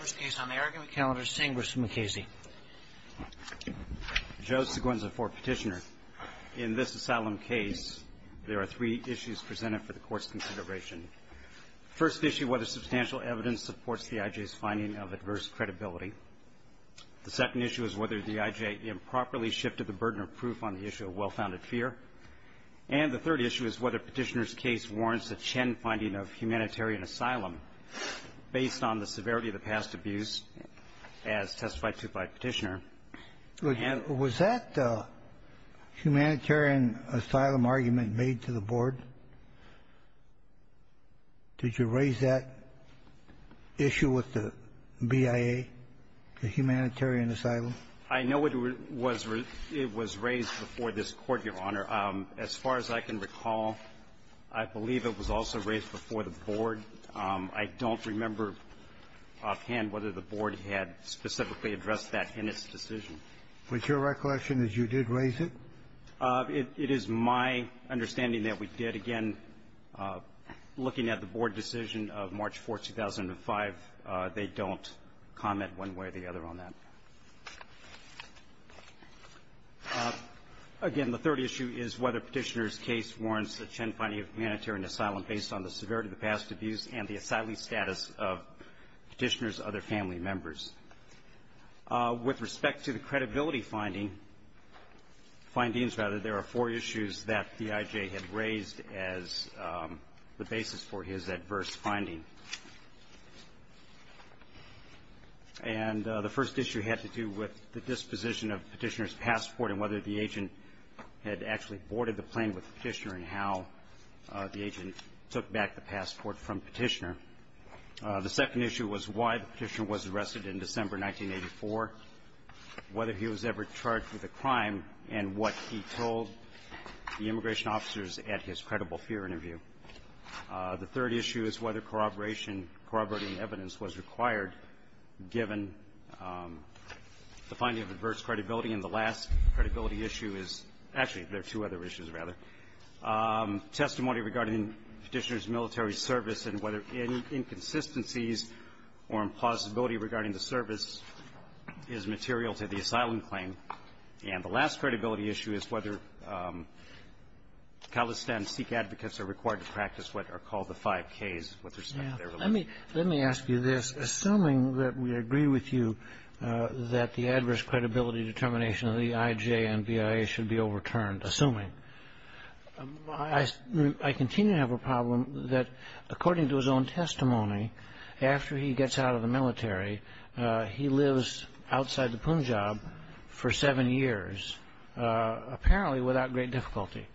First case on the argument calendar, St. Bruce Mukasey. Joe Seguenza for Petitioner. In this asylum case, there are three issues presented for the Court's consideration. First issue, whether substantial evidence supports the I.J.'s finding of adverse credibility. The second issue is whether the I.J. improperly shifted the burden of proof on the issue of well-founded fear. And the third issue is whether Petitioner's case warrants a Chen finding of humanitarian asylum based on the severity of the past abuse, as testified to by Petitioner. And was that humanitarian asylum argument made to the Board? Did you raise that issue with the BIA, the humanitarian asylum? I know it was raised before this Court, Your Honor. As far as I can recall, I believe it was also raised before the Board. I don't remember offhand whether the Board had specifically addressed that in its decision. Was your recollection that you did raise it? It is my understanding that we did. Again, looking at the Board decision of March 4th, 2005, they don't comment one way or the other on that. Again, the third issue is whether Petitioner's case warrants a Chen finding of humanitarian asylum based on the severity of the past abuse and the asylee status of Petitioner's other family members. With respect to the credibility finding, findings, rather, there are four issues that the I.J. had raised as the basis for his adverse finding. And the first issue had to do with the disposition of Petitioner's passport and whether the agent had actually boarded the plane with Petitioner and how the agent took back the passport from Petitioner. The second issue was why Petitioner was arrested in December 1984, whether he was ever charged with a crime, and what he told the immigration officers at his credible fear interview. The third issue is whether corroboration, corroborating evidence was required given the finding of adverse credibility. And the last credibility issue is actually there are two other issues, rather, testimony regarding Petitioner's military service and whether inconsistencies or impossibility regarding the service is material to the asylum claim. And the last credibility issue is whether Khalistan Sikh advocates are required to practice what are called the five Ks with respect to their religion. Let me ask you this. Assuming that we agree with you that the adverse credibility determination of the IJ and BIA should be overturned, assuming, I continue to have a problem that, according to his own testimony, after he gets out of the military, he lives outside the Punjab for seven years, apparently without great difficulty,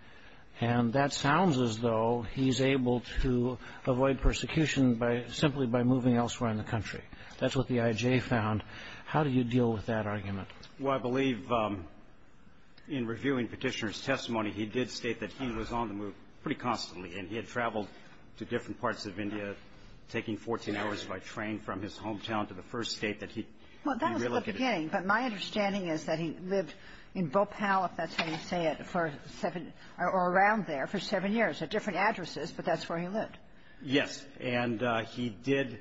and that sounds as though he's able to avoid persecution simply by moving elsewhere in the country. That's what the IJ found. How do you deal with that argument? Well, I believe in reviewing Petitioner's testimony, he did state that he was on the move pretty constantly, and he had traveled to different parts of India, taking 14 hours by train from his hometown to the first state that he relocated to. Well, that was the beginning. But my understanding is that he lived in Bhopal, if that's how you say it, for seven or around there for seven years at different addresses, but that's where he lived. Yes. And he did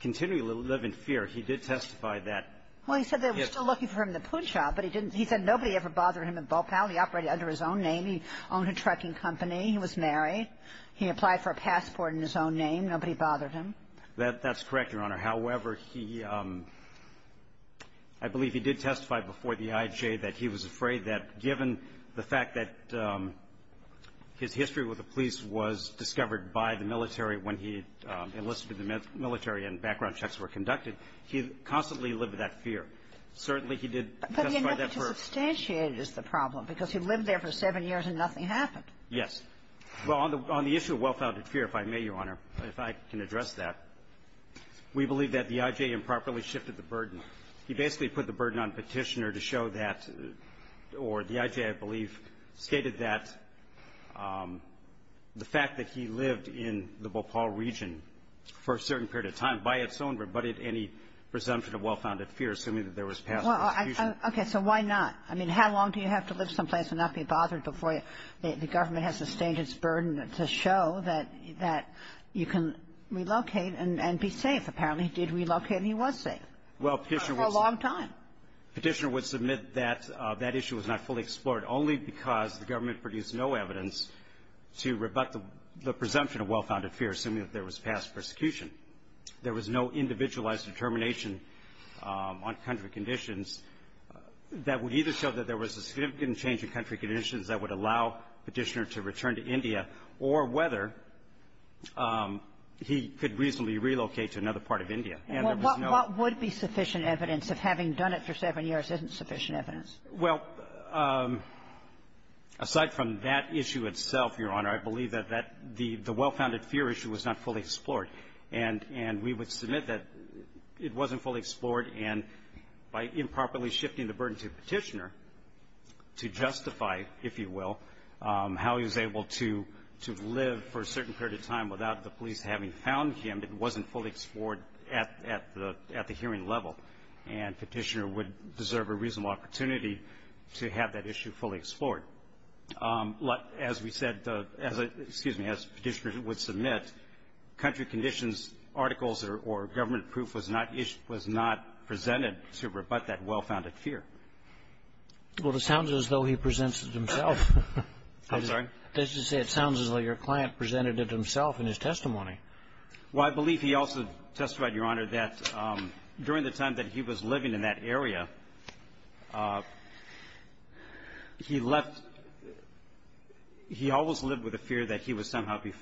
continue to live in fear. He did testify that. Well, he said they were still looking for him in the Punjab, but he didn't. He said nobody ever bothered him in Bhopal. He operated under his own name. He owned a trucking company. He was married. He applied for a passport in his own name. Nobody bothered him. That's correct, Your Honor. However, he – I believe he did testify before the IJ that he was afraid that given the fact that his history with the police was discovered by the military when he enlisted in the military and background checks were conducted, he constantly lived with that fear. Certainly, he did testify that for her. But he had never substantiated the problem because he lived there for seven years and nothing happened. Yes. Well, on the issue of well-founded fear, if I may, Your Honor, if I can address that, we believe that the IJ improperly shifted the burden. He basically put the burden on Petitioner to show that – or the IJ, I believe, stated that the fact that he lived in the Bhopal region for a certain period of time by its own rebutted any presumption of well-founded fear, assuming that there was past prosecution. Okay. So why not? I mean, how long do you have to live someplace and not be bothered before the government has sustained its burden to show that you can relocate and be safe? Apparently, he did relocate and he was safe. Well, Petitioner would – For a long time. Petitioner would submit that that issue was not fully explored only because the government produced no evidence to rebut the presumption of well-founded fear, assuming that there was past persecution. There was no individualized determination on country conditions that would either show that there was a significant change in country conditions that would allow Petitioner to return to India or whether he could reasonably relocate to another part of India. And there was no – Well, what would be sufficient evidence if having done it for seven years isn't sufficient evidence? Well, aside from that issue itself, Your Honor, I believe that that – the well-founded fear issue was not fully explored. And we would submit that it wasn't fully explored. And by improperly shifting the burden to Petitioner to justify, if you will, how he was able to live for a certain period of time without the police having found him, it wasn't fully explored at the hearing level. And Petitioner would deserve a reasonable opportunity to have that issue fully explored. As we said – excuse me, as Petitioner would submit, country conditions articles or government proof was not presented to rebut that well-founded fear. Well, it sounds as though he presents it himself. I'm sorry? I was going to say it sounds as though your client presented it himself in his testimony. Well, I believe he also testified, Your Honor, that during the time that he was living in that area, he left – he always lived with a fear that he would somehow be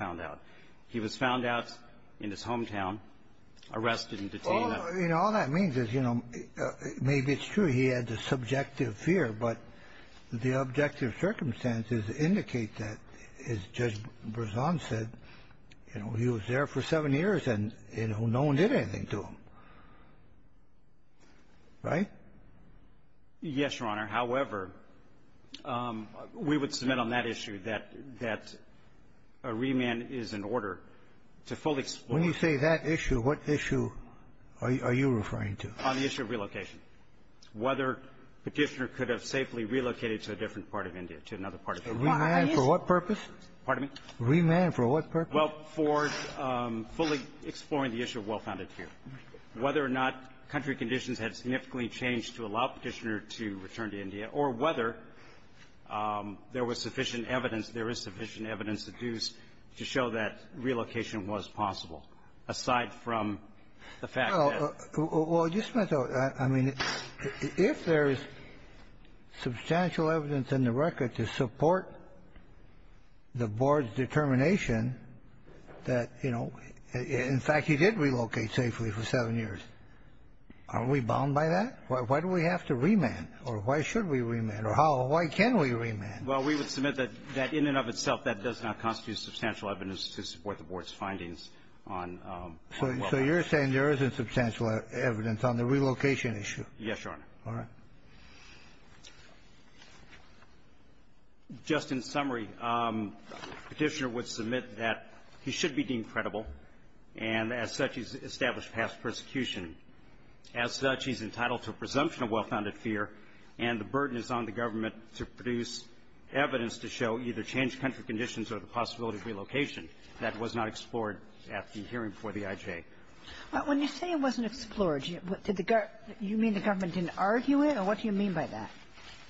arrested and detained. Well, you know, all that means is, you know, maybe it's true he had the subjective fear, but the objective circumstances indicate that, as Judge Brezon said, you know, he was there for seven years and, you know, no one did anything to him. Right? Yes, Your Honor. However, we would submit on that issue that a remand is an order to fully explore. When you say that issue, what issue are you referring to? On the issue of relocation. Whether Petitioner could have safely relocated to a different part of India, to another part of India. A remand for what purpose? Pardon me? A remand for what purpose? Well, for fully exploring the issue of well-founded fear. Whether or not country conditions had significantly changed to allow Petitioner to return to India, or whether there was sufficient evidence, there is sufficient evidence to do to show that relocation was possible, aside from the fact that — Well, just a minute, though. I mean, if there is substantial evidence in the record to support the Board's determination that, you know, in fact, he did relocate safely for seven years, aren't we bound by that? Why do we have to remand? Or why should we remand? Or how — why can we remand? Well, we would submit that in and of itself, that does not constitute substantial evidence to support the Board's findings on well-founded fear. So you're saying there isn't substantial evidence on the relocation issue? Yes, Your Honor. All right. Just in summary, Petitioner would submit that he should be deemed credible, and as such, he's established past persecution. As such, he's entitled to a presumption of well-founded fear, and the burden is on the government to produce evidence to show either changed country conditions or the possibility of relocation. That was not explored at the hearing for the IJ. When you say it wasn't explored, did the — you mean the government didn't argue it? Or what do you mean by that?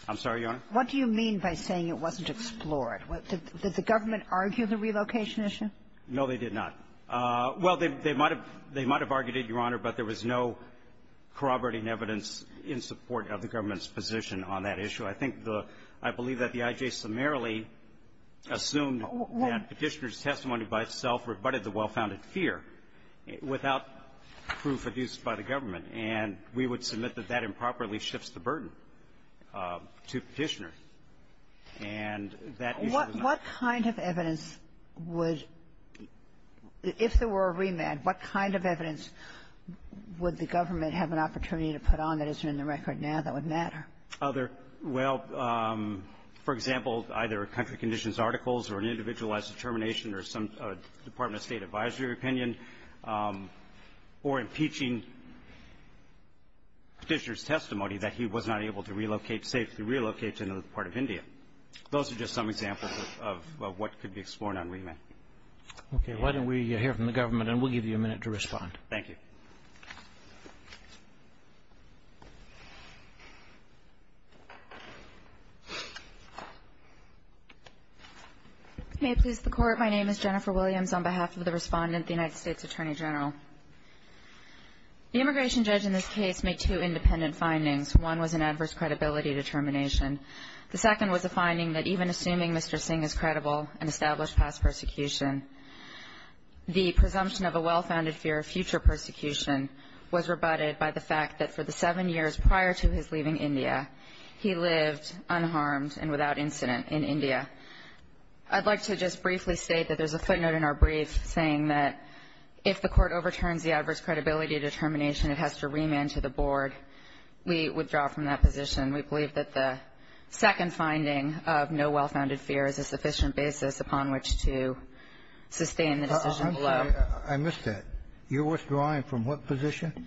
I'm sorry, Your Honor? What do you mean by saying it wasn't explored? Did the government argue the relocation issue? No, they did not. Well, they might have argued it, Your Honor, but there was no corroborating evidence in support of the government's position on that issue. I think the — I believe that the IJ summarily assumed that Petitioner's testimony by itself rebutted the well-founded fear without proof produced by the government. And we would submit that that improperly shifts the burden to Petitioner. And that is — What kind of evidence would — if there were a remand, what kind of evidence would the government have an opportunity to put on that isn't in the record now that would matter? Well, for example, either country conditions articles or an individualized determination or some Department of State advisory opinion or impeaching Petitioner's testimony that he was not able to relocate, safely relocate to another part of India. Those are just some examples of what could be explored on remand. Okay. Why don't we hear from the government, and we'll give you a minute to respond. Thank you. May it please the Court, my name is Jennifer Williams on behalf of the Respondent, the United States Attorney General. The immigration judge in this case made two independent findings. One was an adverse credibility determination. The second was a finding that even assuming Mr. Singh is credible and established past persecution, the presumption of a well-founded fear of future persecution was rebutted by the fact that for the seven years prior to his leaving India, he lived unharmed and without incident in India. I'd like to just briefly state that there's a footnote in our brief saying that if the Court overturns the adverse credibility determination, it has to remand to the Board. We withdraw from that position. We believe that the second finding of no well-founded fear is a sufficient basis upon which to sustain the decision below. I'm sorry. I missed that. You're withdrawing from what position?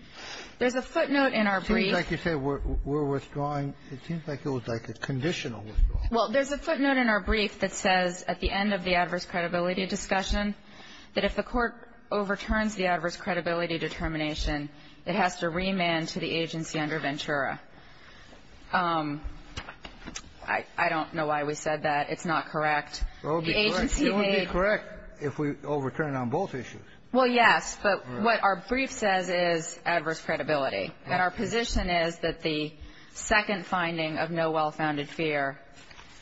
There's a footnote in our brief. It seems like you said we're withdrawing. It seems like it was like a conditional withdrawal. Well, there's a footnote in our brief that says at the end of the adverse credibility discussion that if the Court overturns the adverse credibility determination, it has to remand to the agency under Ventura. I don't know why we said that. It's not correct. It would be correct if we overturned on both issues. Well, yes. But what our brief says is adverse credibility. And our position is that the second finding of no well-founded fear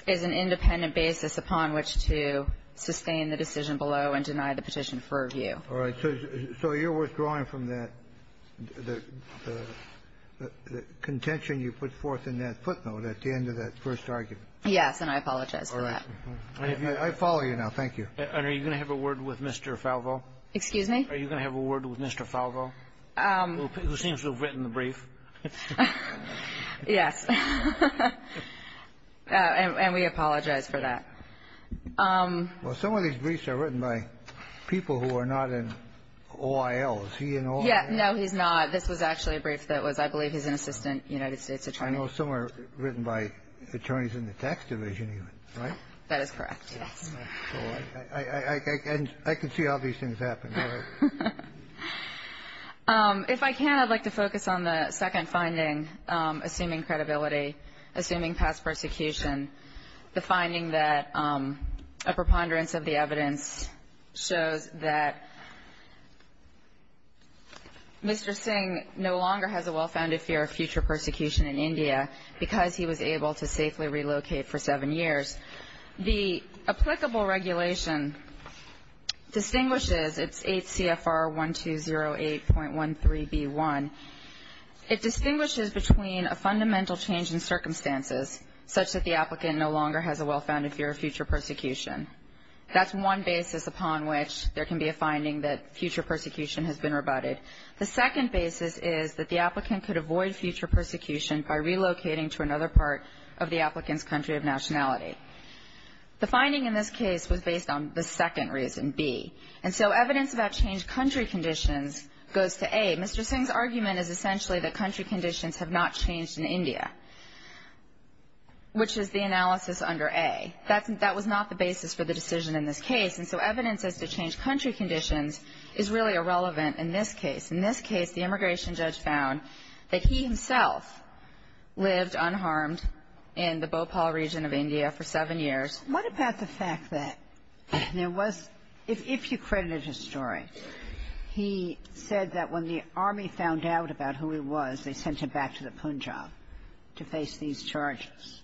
is an independent basis upon which to sustain the decision below and deny the petition for review. All right. So you're withdrawing from that, the contention you put forth in that footnote at the end of that first argument. Yes. And I apologize for that. I follow you now. Thank you. And are you going to have a word with Mr. Falvo? Excuse me? Are you going to have a word with Mr. Falvo, who seems to have written the brief? Yes. And we apologize for that. Well, some of these briefs are written by people who are not in OIL. Is he in OIL? No, he's not. This was actually a brief that was, I believe, he's an assistant United States attorney. I know some are written by attorneys in the tax division, right? That is correct, yes. All right. And I can see how these things happen. If I can, I'd like to focus on the second finding, assuming credibility, assuming past persecution, the finding that a preponderance of the evidence shows that Mr. Singh no longer has a well-founded fear of future persecution in India because he was able to safely relocate for seven years. The applicable regulation distinguishes, it's 8 CFR 1208.13b1, it distinguishes between a fundamental change in circumstances such that the applicant no longer has a well-founded fear of future persecution. That's one basis upon which there can be a finding that future persecution has been rebutted. The second basis is that the applicant could avoid future persecution by relocating to another part of the applicant's country of nationality. The finding in this case was based on the second reason, b. And so evidence about changed country conditions goes to a. Mr. Singh's argument is essentially that country conditions have not changed in India, which is the analysis under a. That was not the basis for the decision in this case. And so evidence as to changed country conditions is really irrelevant in this case. In this case, the immigration judge found that he himself lived unharmed in the Bhopal region of India for seven years. What about the fact that there was, if you credited his story, he said that when the army found out about who he was, they sent him back to the Punjab to face these charges.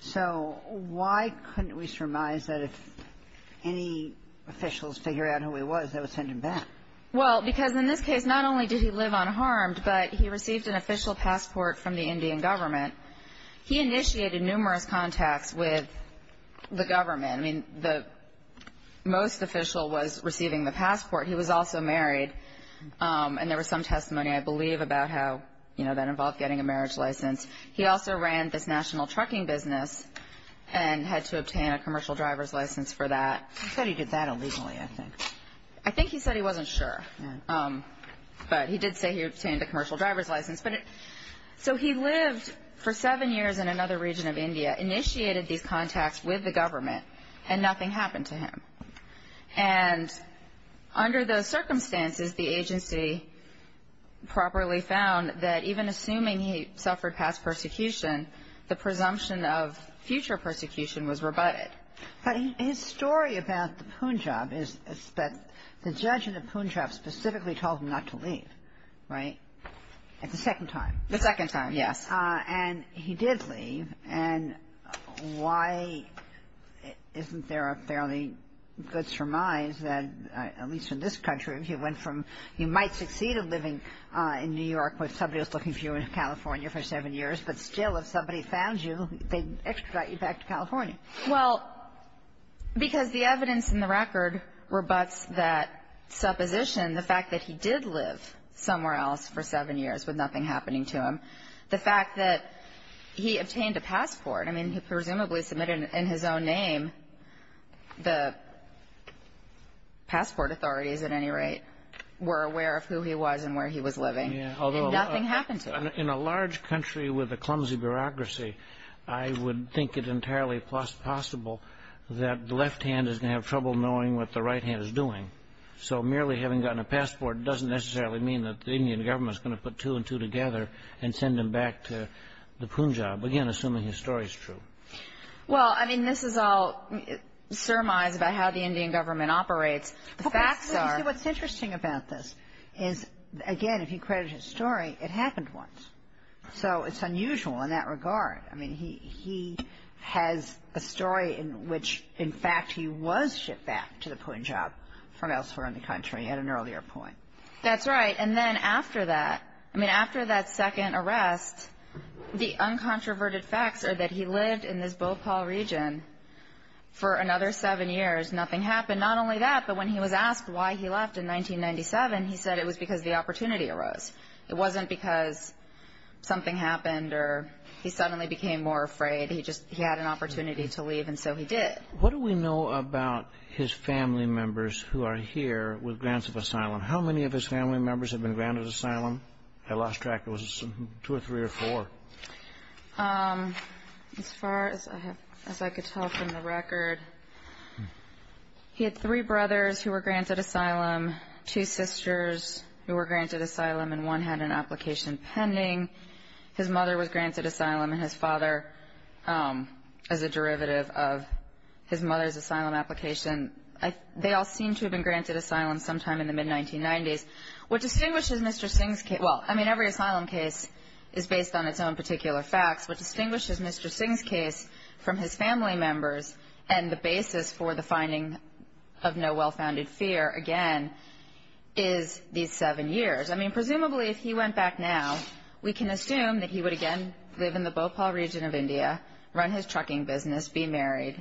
So why couldn't we surmise that if any officials figure out who he was, they would send him back? Well, because in this case, not only did he live unharmed, but he received an official passport from the Indian government. He initiated numerous contacts with the government. I mean, the most official was receiving the passport. He was also married. And there was some testimony, I believe, about how, you know, that involved getting a marriage license. He also ran this national trucking business and had to obtain a commercial driver's license for that. He said he did that illegally, I think. I think he said he wasn't sure. But he did say he obtained a commercial driver's license. So he lived for seven years in another region of India, initiated these contacts with the government, and nothing happened to him. And under those circumstances, the agency properly found that even assuming he suffered past persecution, the presumption of future persecution was rebutted. But his story about the Punjab is that the judge in the Punjab specifically told him not to leave, right? At the second time. The second time, yes. And he did leave. And why isn't there a fairly good surmise that, at least in this country, if you went from you might succeed in living in New York with somebody who's looking for you in California for seven years, but still if somebody found you, they'd extradite you back to California? Well, because the evidence in the record rebutts that supposition, the fact that he did live somewhere else for seven years with nothing happening to him. The fact that he obtained a passport. I mean, he presumably submitted it in his own name. The passport authorities, at any rate, were aware of who he was and where he was living. And nothing happened to him. In a large country with a clumsy bureaucracy, I would think it entirely possible that the left hand is going to have trouble knowing what the right hand is doing. So merely having gotten a passport doesn't necessarily mean that the Indian government is going to put two and two together and send him back to the Punjab, again, assuming his story is true. Well, I mean, this is all surmise about how the Indian government operates. What's interesting about this is, again, if you credit his story, it happened once. So it's unusual in that regard. I mean, he has a story in which, in fact, he was shipped back to the Punjab from elsewhere in the country at an earlier point. That's right. And then after that, I mean, after that second arrest, the uncontroverted facts are that he lived in this Bhopal region for another seven years. Nothing happened. Not only that, but when he was asked why he left in 1997, he said it was because the opportunity arose. It wasn't because something happened or he suddenly became more afraid. He just had an opportunity to leave, and so he did. What do we know about his family members who are here with grants of asylum? How many of his family members have been granted asylum? I lost track. Was it two or three or four? As far as I could tell from the record, he had three brothers who were granted asylum, two sisters who were granted asylum, and one had an application pending. His mother was granted asylum, and his father as a derivative of his mother's asylum application. They all seemed to have been granted asylum sometime in the mid-1990s. What distinguishes Mr. Singh's case, well, I mean, every asylum case is based on its own particular facts. What distinguishes Mr. Singh's case from his family members and the basis for the finding of no well-founded fear, again, is these seven years. I mean, presumably if he went back now, we can assume that he would again live in the Bhopal region of India, run his trucking business, be married.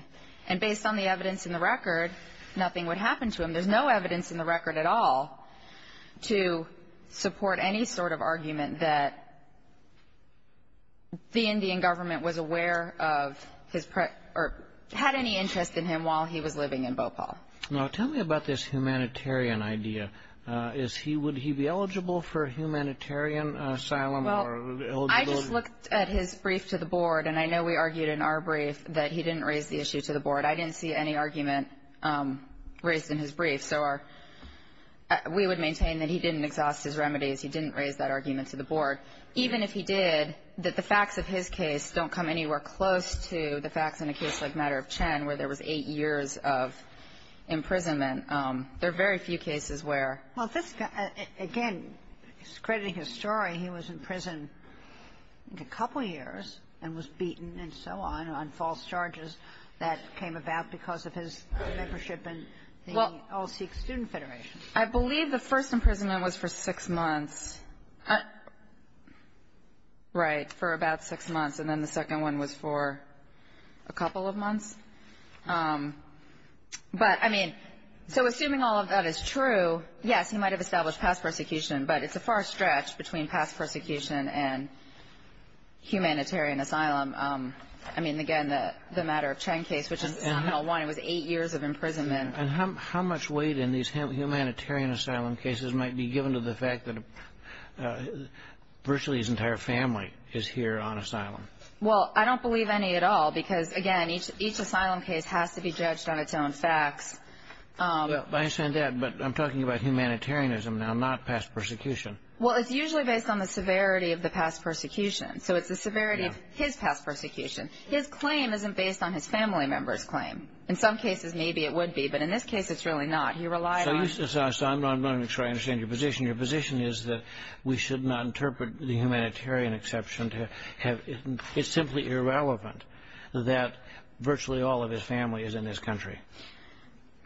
And based on the evidence in the record, nothing would happen to him. There's no evidence in the record at all to support any sort of argument that the Indian government was aware of his or had any interest in him while he was living in Bhopal. Now, tell me about this humanitarian idea. Would he be eligible for humanitarian asylum or eligible? Well, I just looked at his brief to the board, and I know we argued in our brief that he didn't raise the issue to the board. I didn't see any argument raised in his brief. So our ‑‑ we would maintain that he didn't exhaust his remedies. He didn't raise that argument to the board. Even if he did, that the facts of his case don't come anywhere close to the facts in a case like Matter of Chen where there was eight years of imprisonment. There are very few cases where ‑‑ Well, this guy, again, he's crediting his story. He was in prison a couple years and was beaten and so on, on false charges that came about because of his membership in the All Sikh Student Federation. I believe the first imprisonment was for six months. Right. For about six months. And then the second one was for a couple of months. But, I mean, so assuming all of that is true, yes, he might have established past persecution, but it's a far stretch between past persecution and humanitarian asylum. I mean, again, the Matter of Chen case, which is the final one. It was eight years of imprisonment. And how much weight in these humanitarian asylum cases might be given to the fact that virtually his entire family is here on asylum? Well, I don't believe any at all because, again, each asylum case has to be judged on its own facts. I understand that. But I'm talking about humanitarianism now, not past persecution. Well, it's usually based on the severity of the past persecution. So it's the severity of his past persecution. His claim isn't based on his family member's claim. In some cases, maybe it would be. But in this case, it's really not. He relied on ‑‑ So I'm not going to try to understand your position. Your position is that we should not interpret the humanitarian exception to have ‑‑ It's simply irrelevant that virtually all of his family is in this country.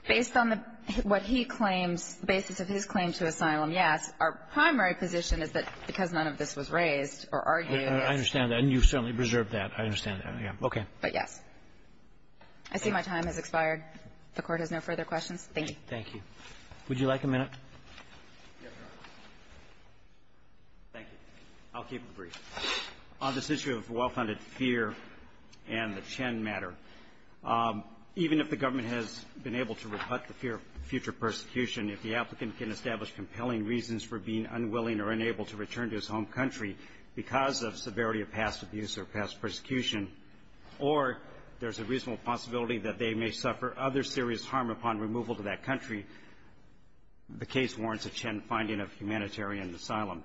Based on what he claims, the basis of his claim to asylum, yes. Our primary position is that because none of this was raised or argued. I understand that. And you certainly preserved that. I understand that. Okay. But yes. I see my time has expired. The Court has no further questions. Thank you. Thank you. Would you like a minute? Yes, Your Honor. Thank you. I'll keep it brief. On this issue of well‑founded fear and the Chen matter, even if the government has been able to rebut the fear of future persecution, if the applicant can establish compelling reasons for being unwilling or unable to return to his home country because of severity of past abuse or past persecution, or there's a reasonable possibility that they may suffer other serious harm upon removal to that country, the case warrants a Chen finding of humanitarian asylum.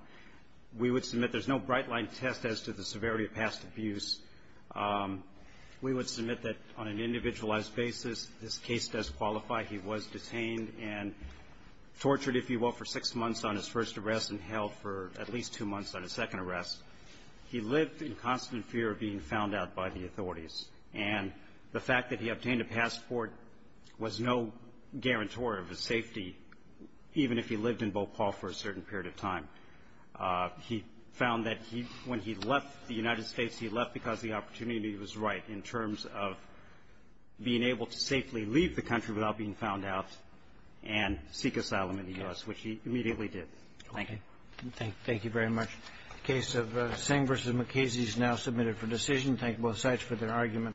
We would submit there's no bright‑line test as to the severity of past abuse. We would submit that on an individualized basis, this case does qualify. He was detained and tortured, if you will, for six months on his first arrest and held for at least two months on his second arrest. He lived in constant fear of being found out by the authorities. And the fact that he obtained a passport was no guarantor of his safety, even if he lived in Bhopal for a certain period of time. He found that when he left the United States, he left because the opportunity was right in terms of being able to safely leave the country without being found out and seek asylum in the U.S., which he immediately did. Thank you. Thank you very much. The case of Singh v. McKenzie is now submitted for decision. Thank both sides for their arguments.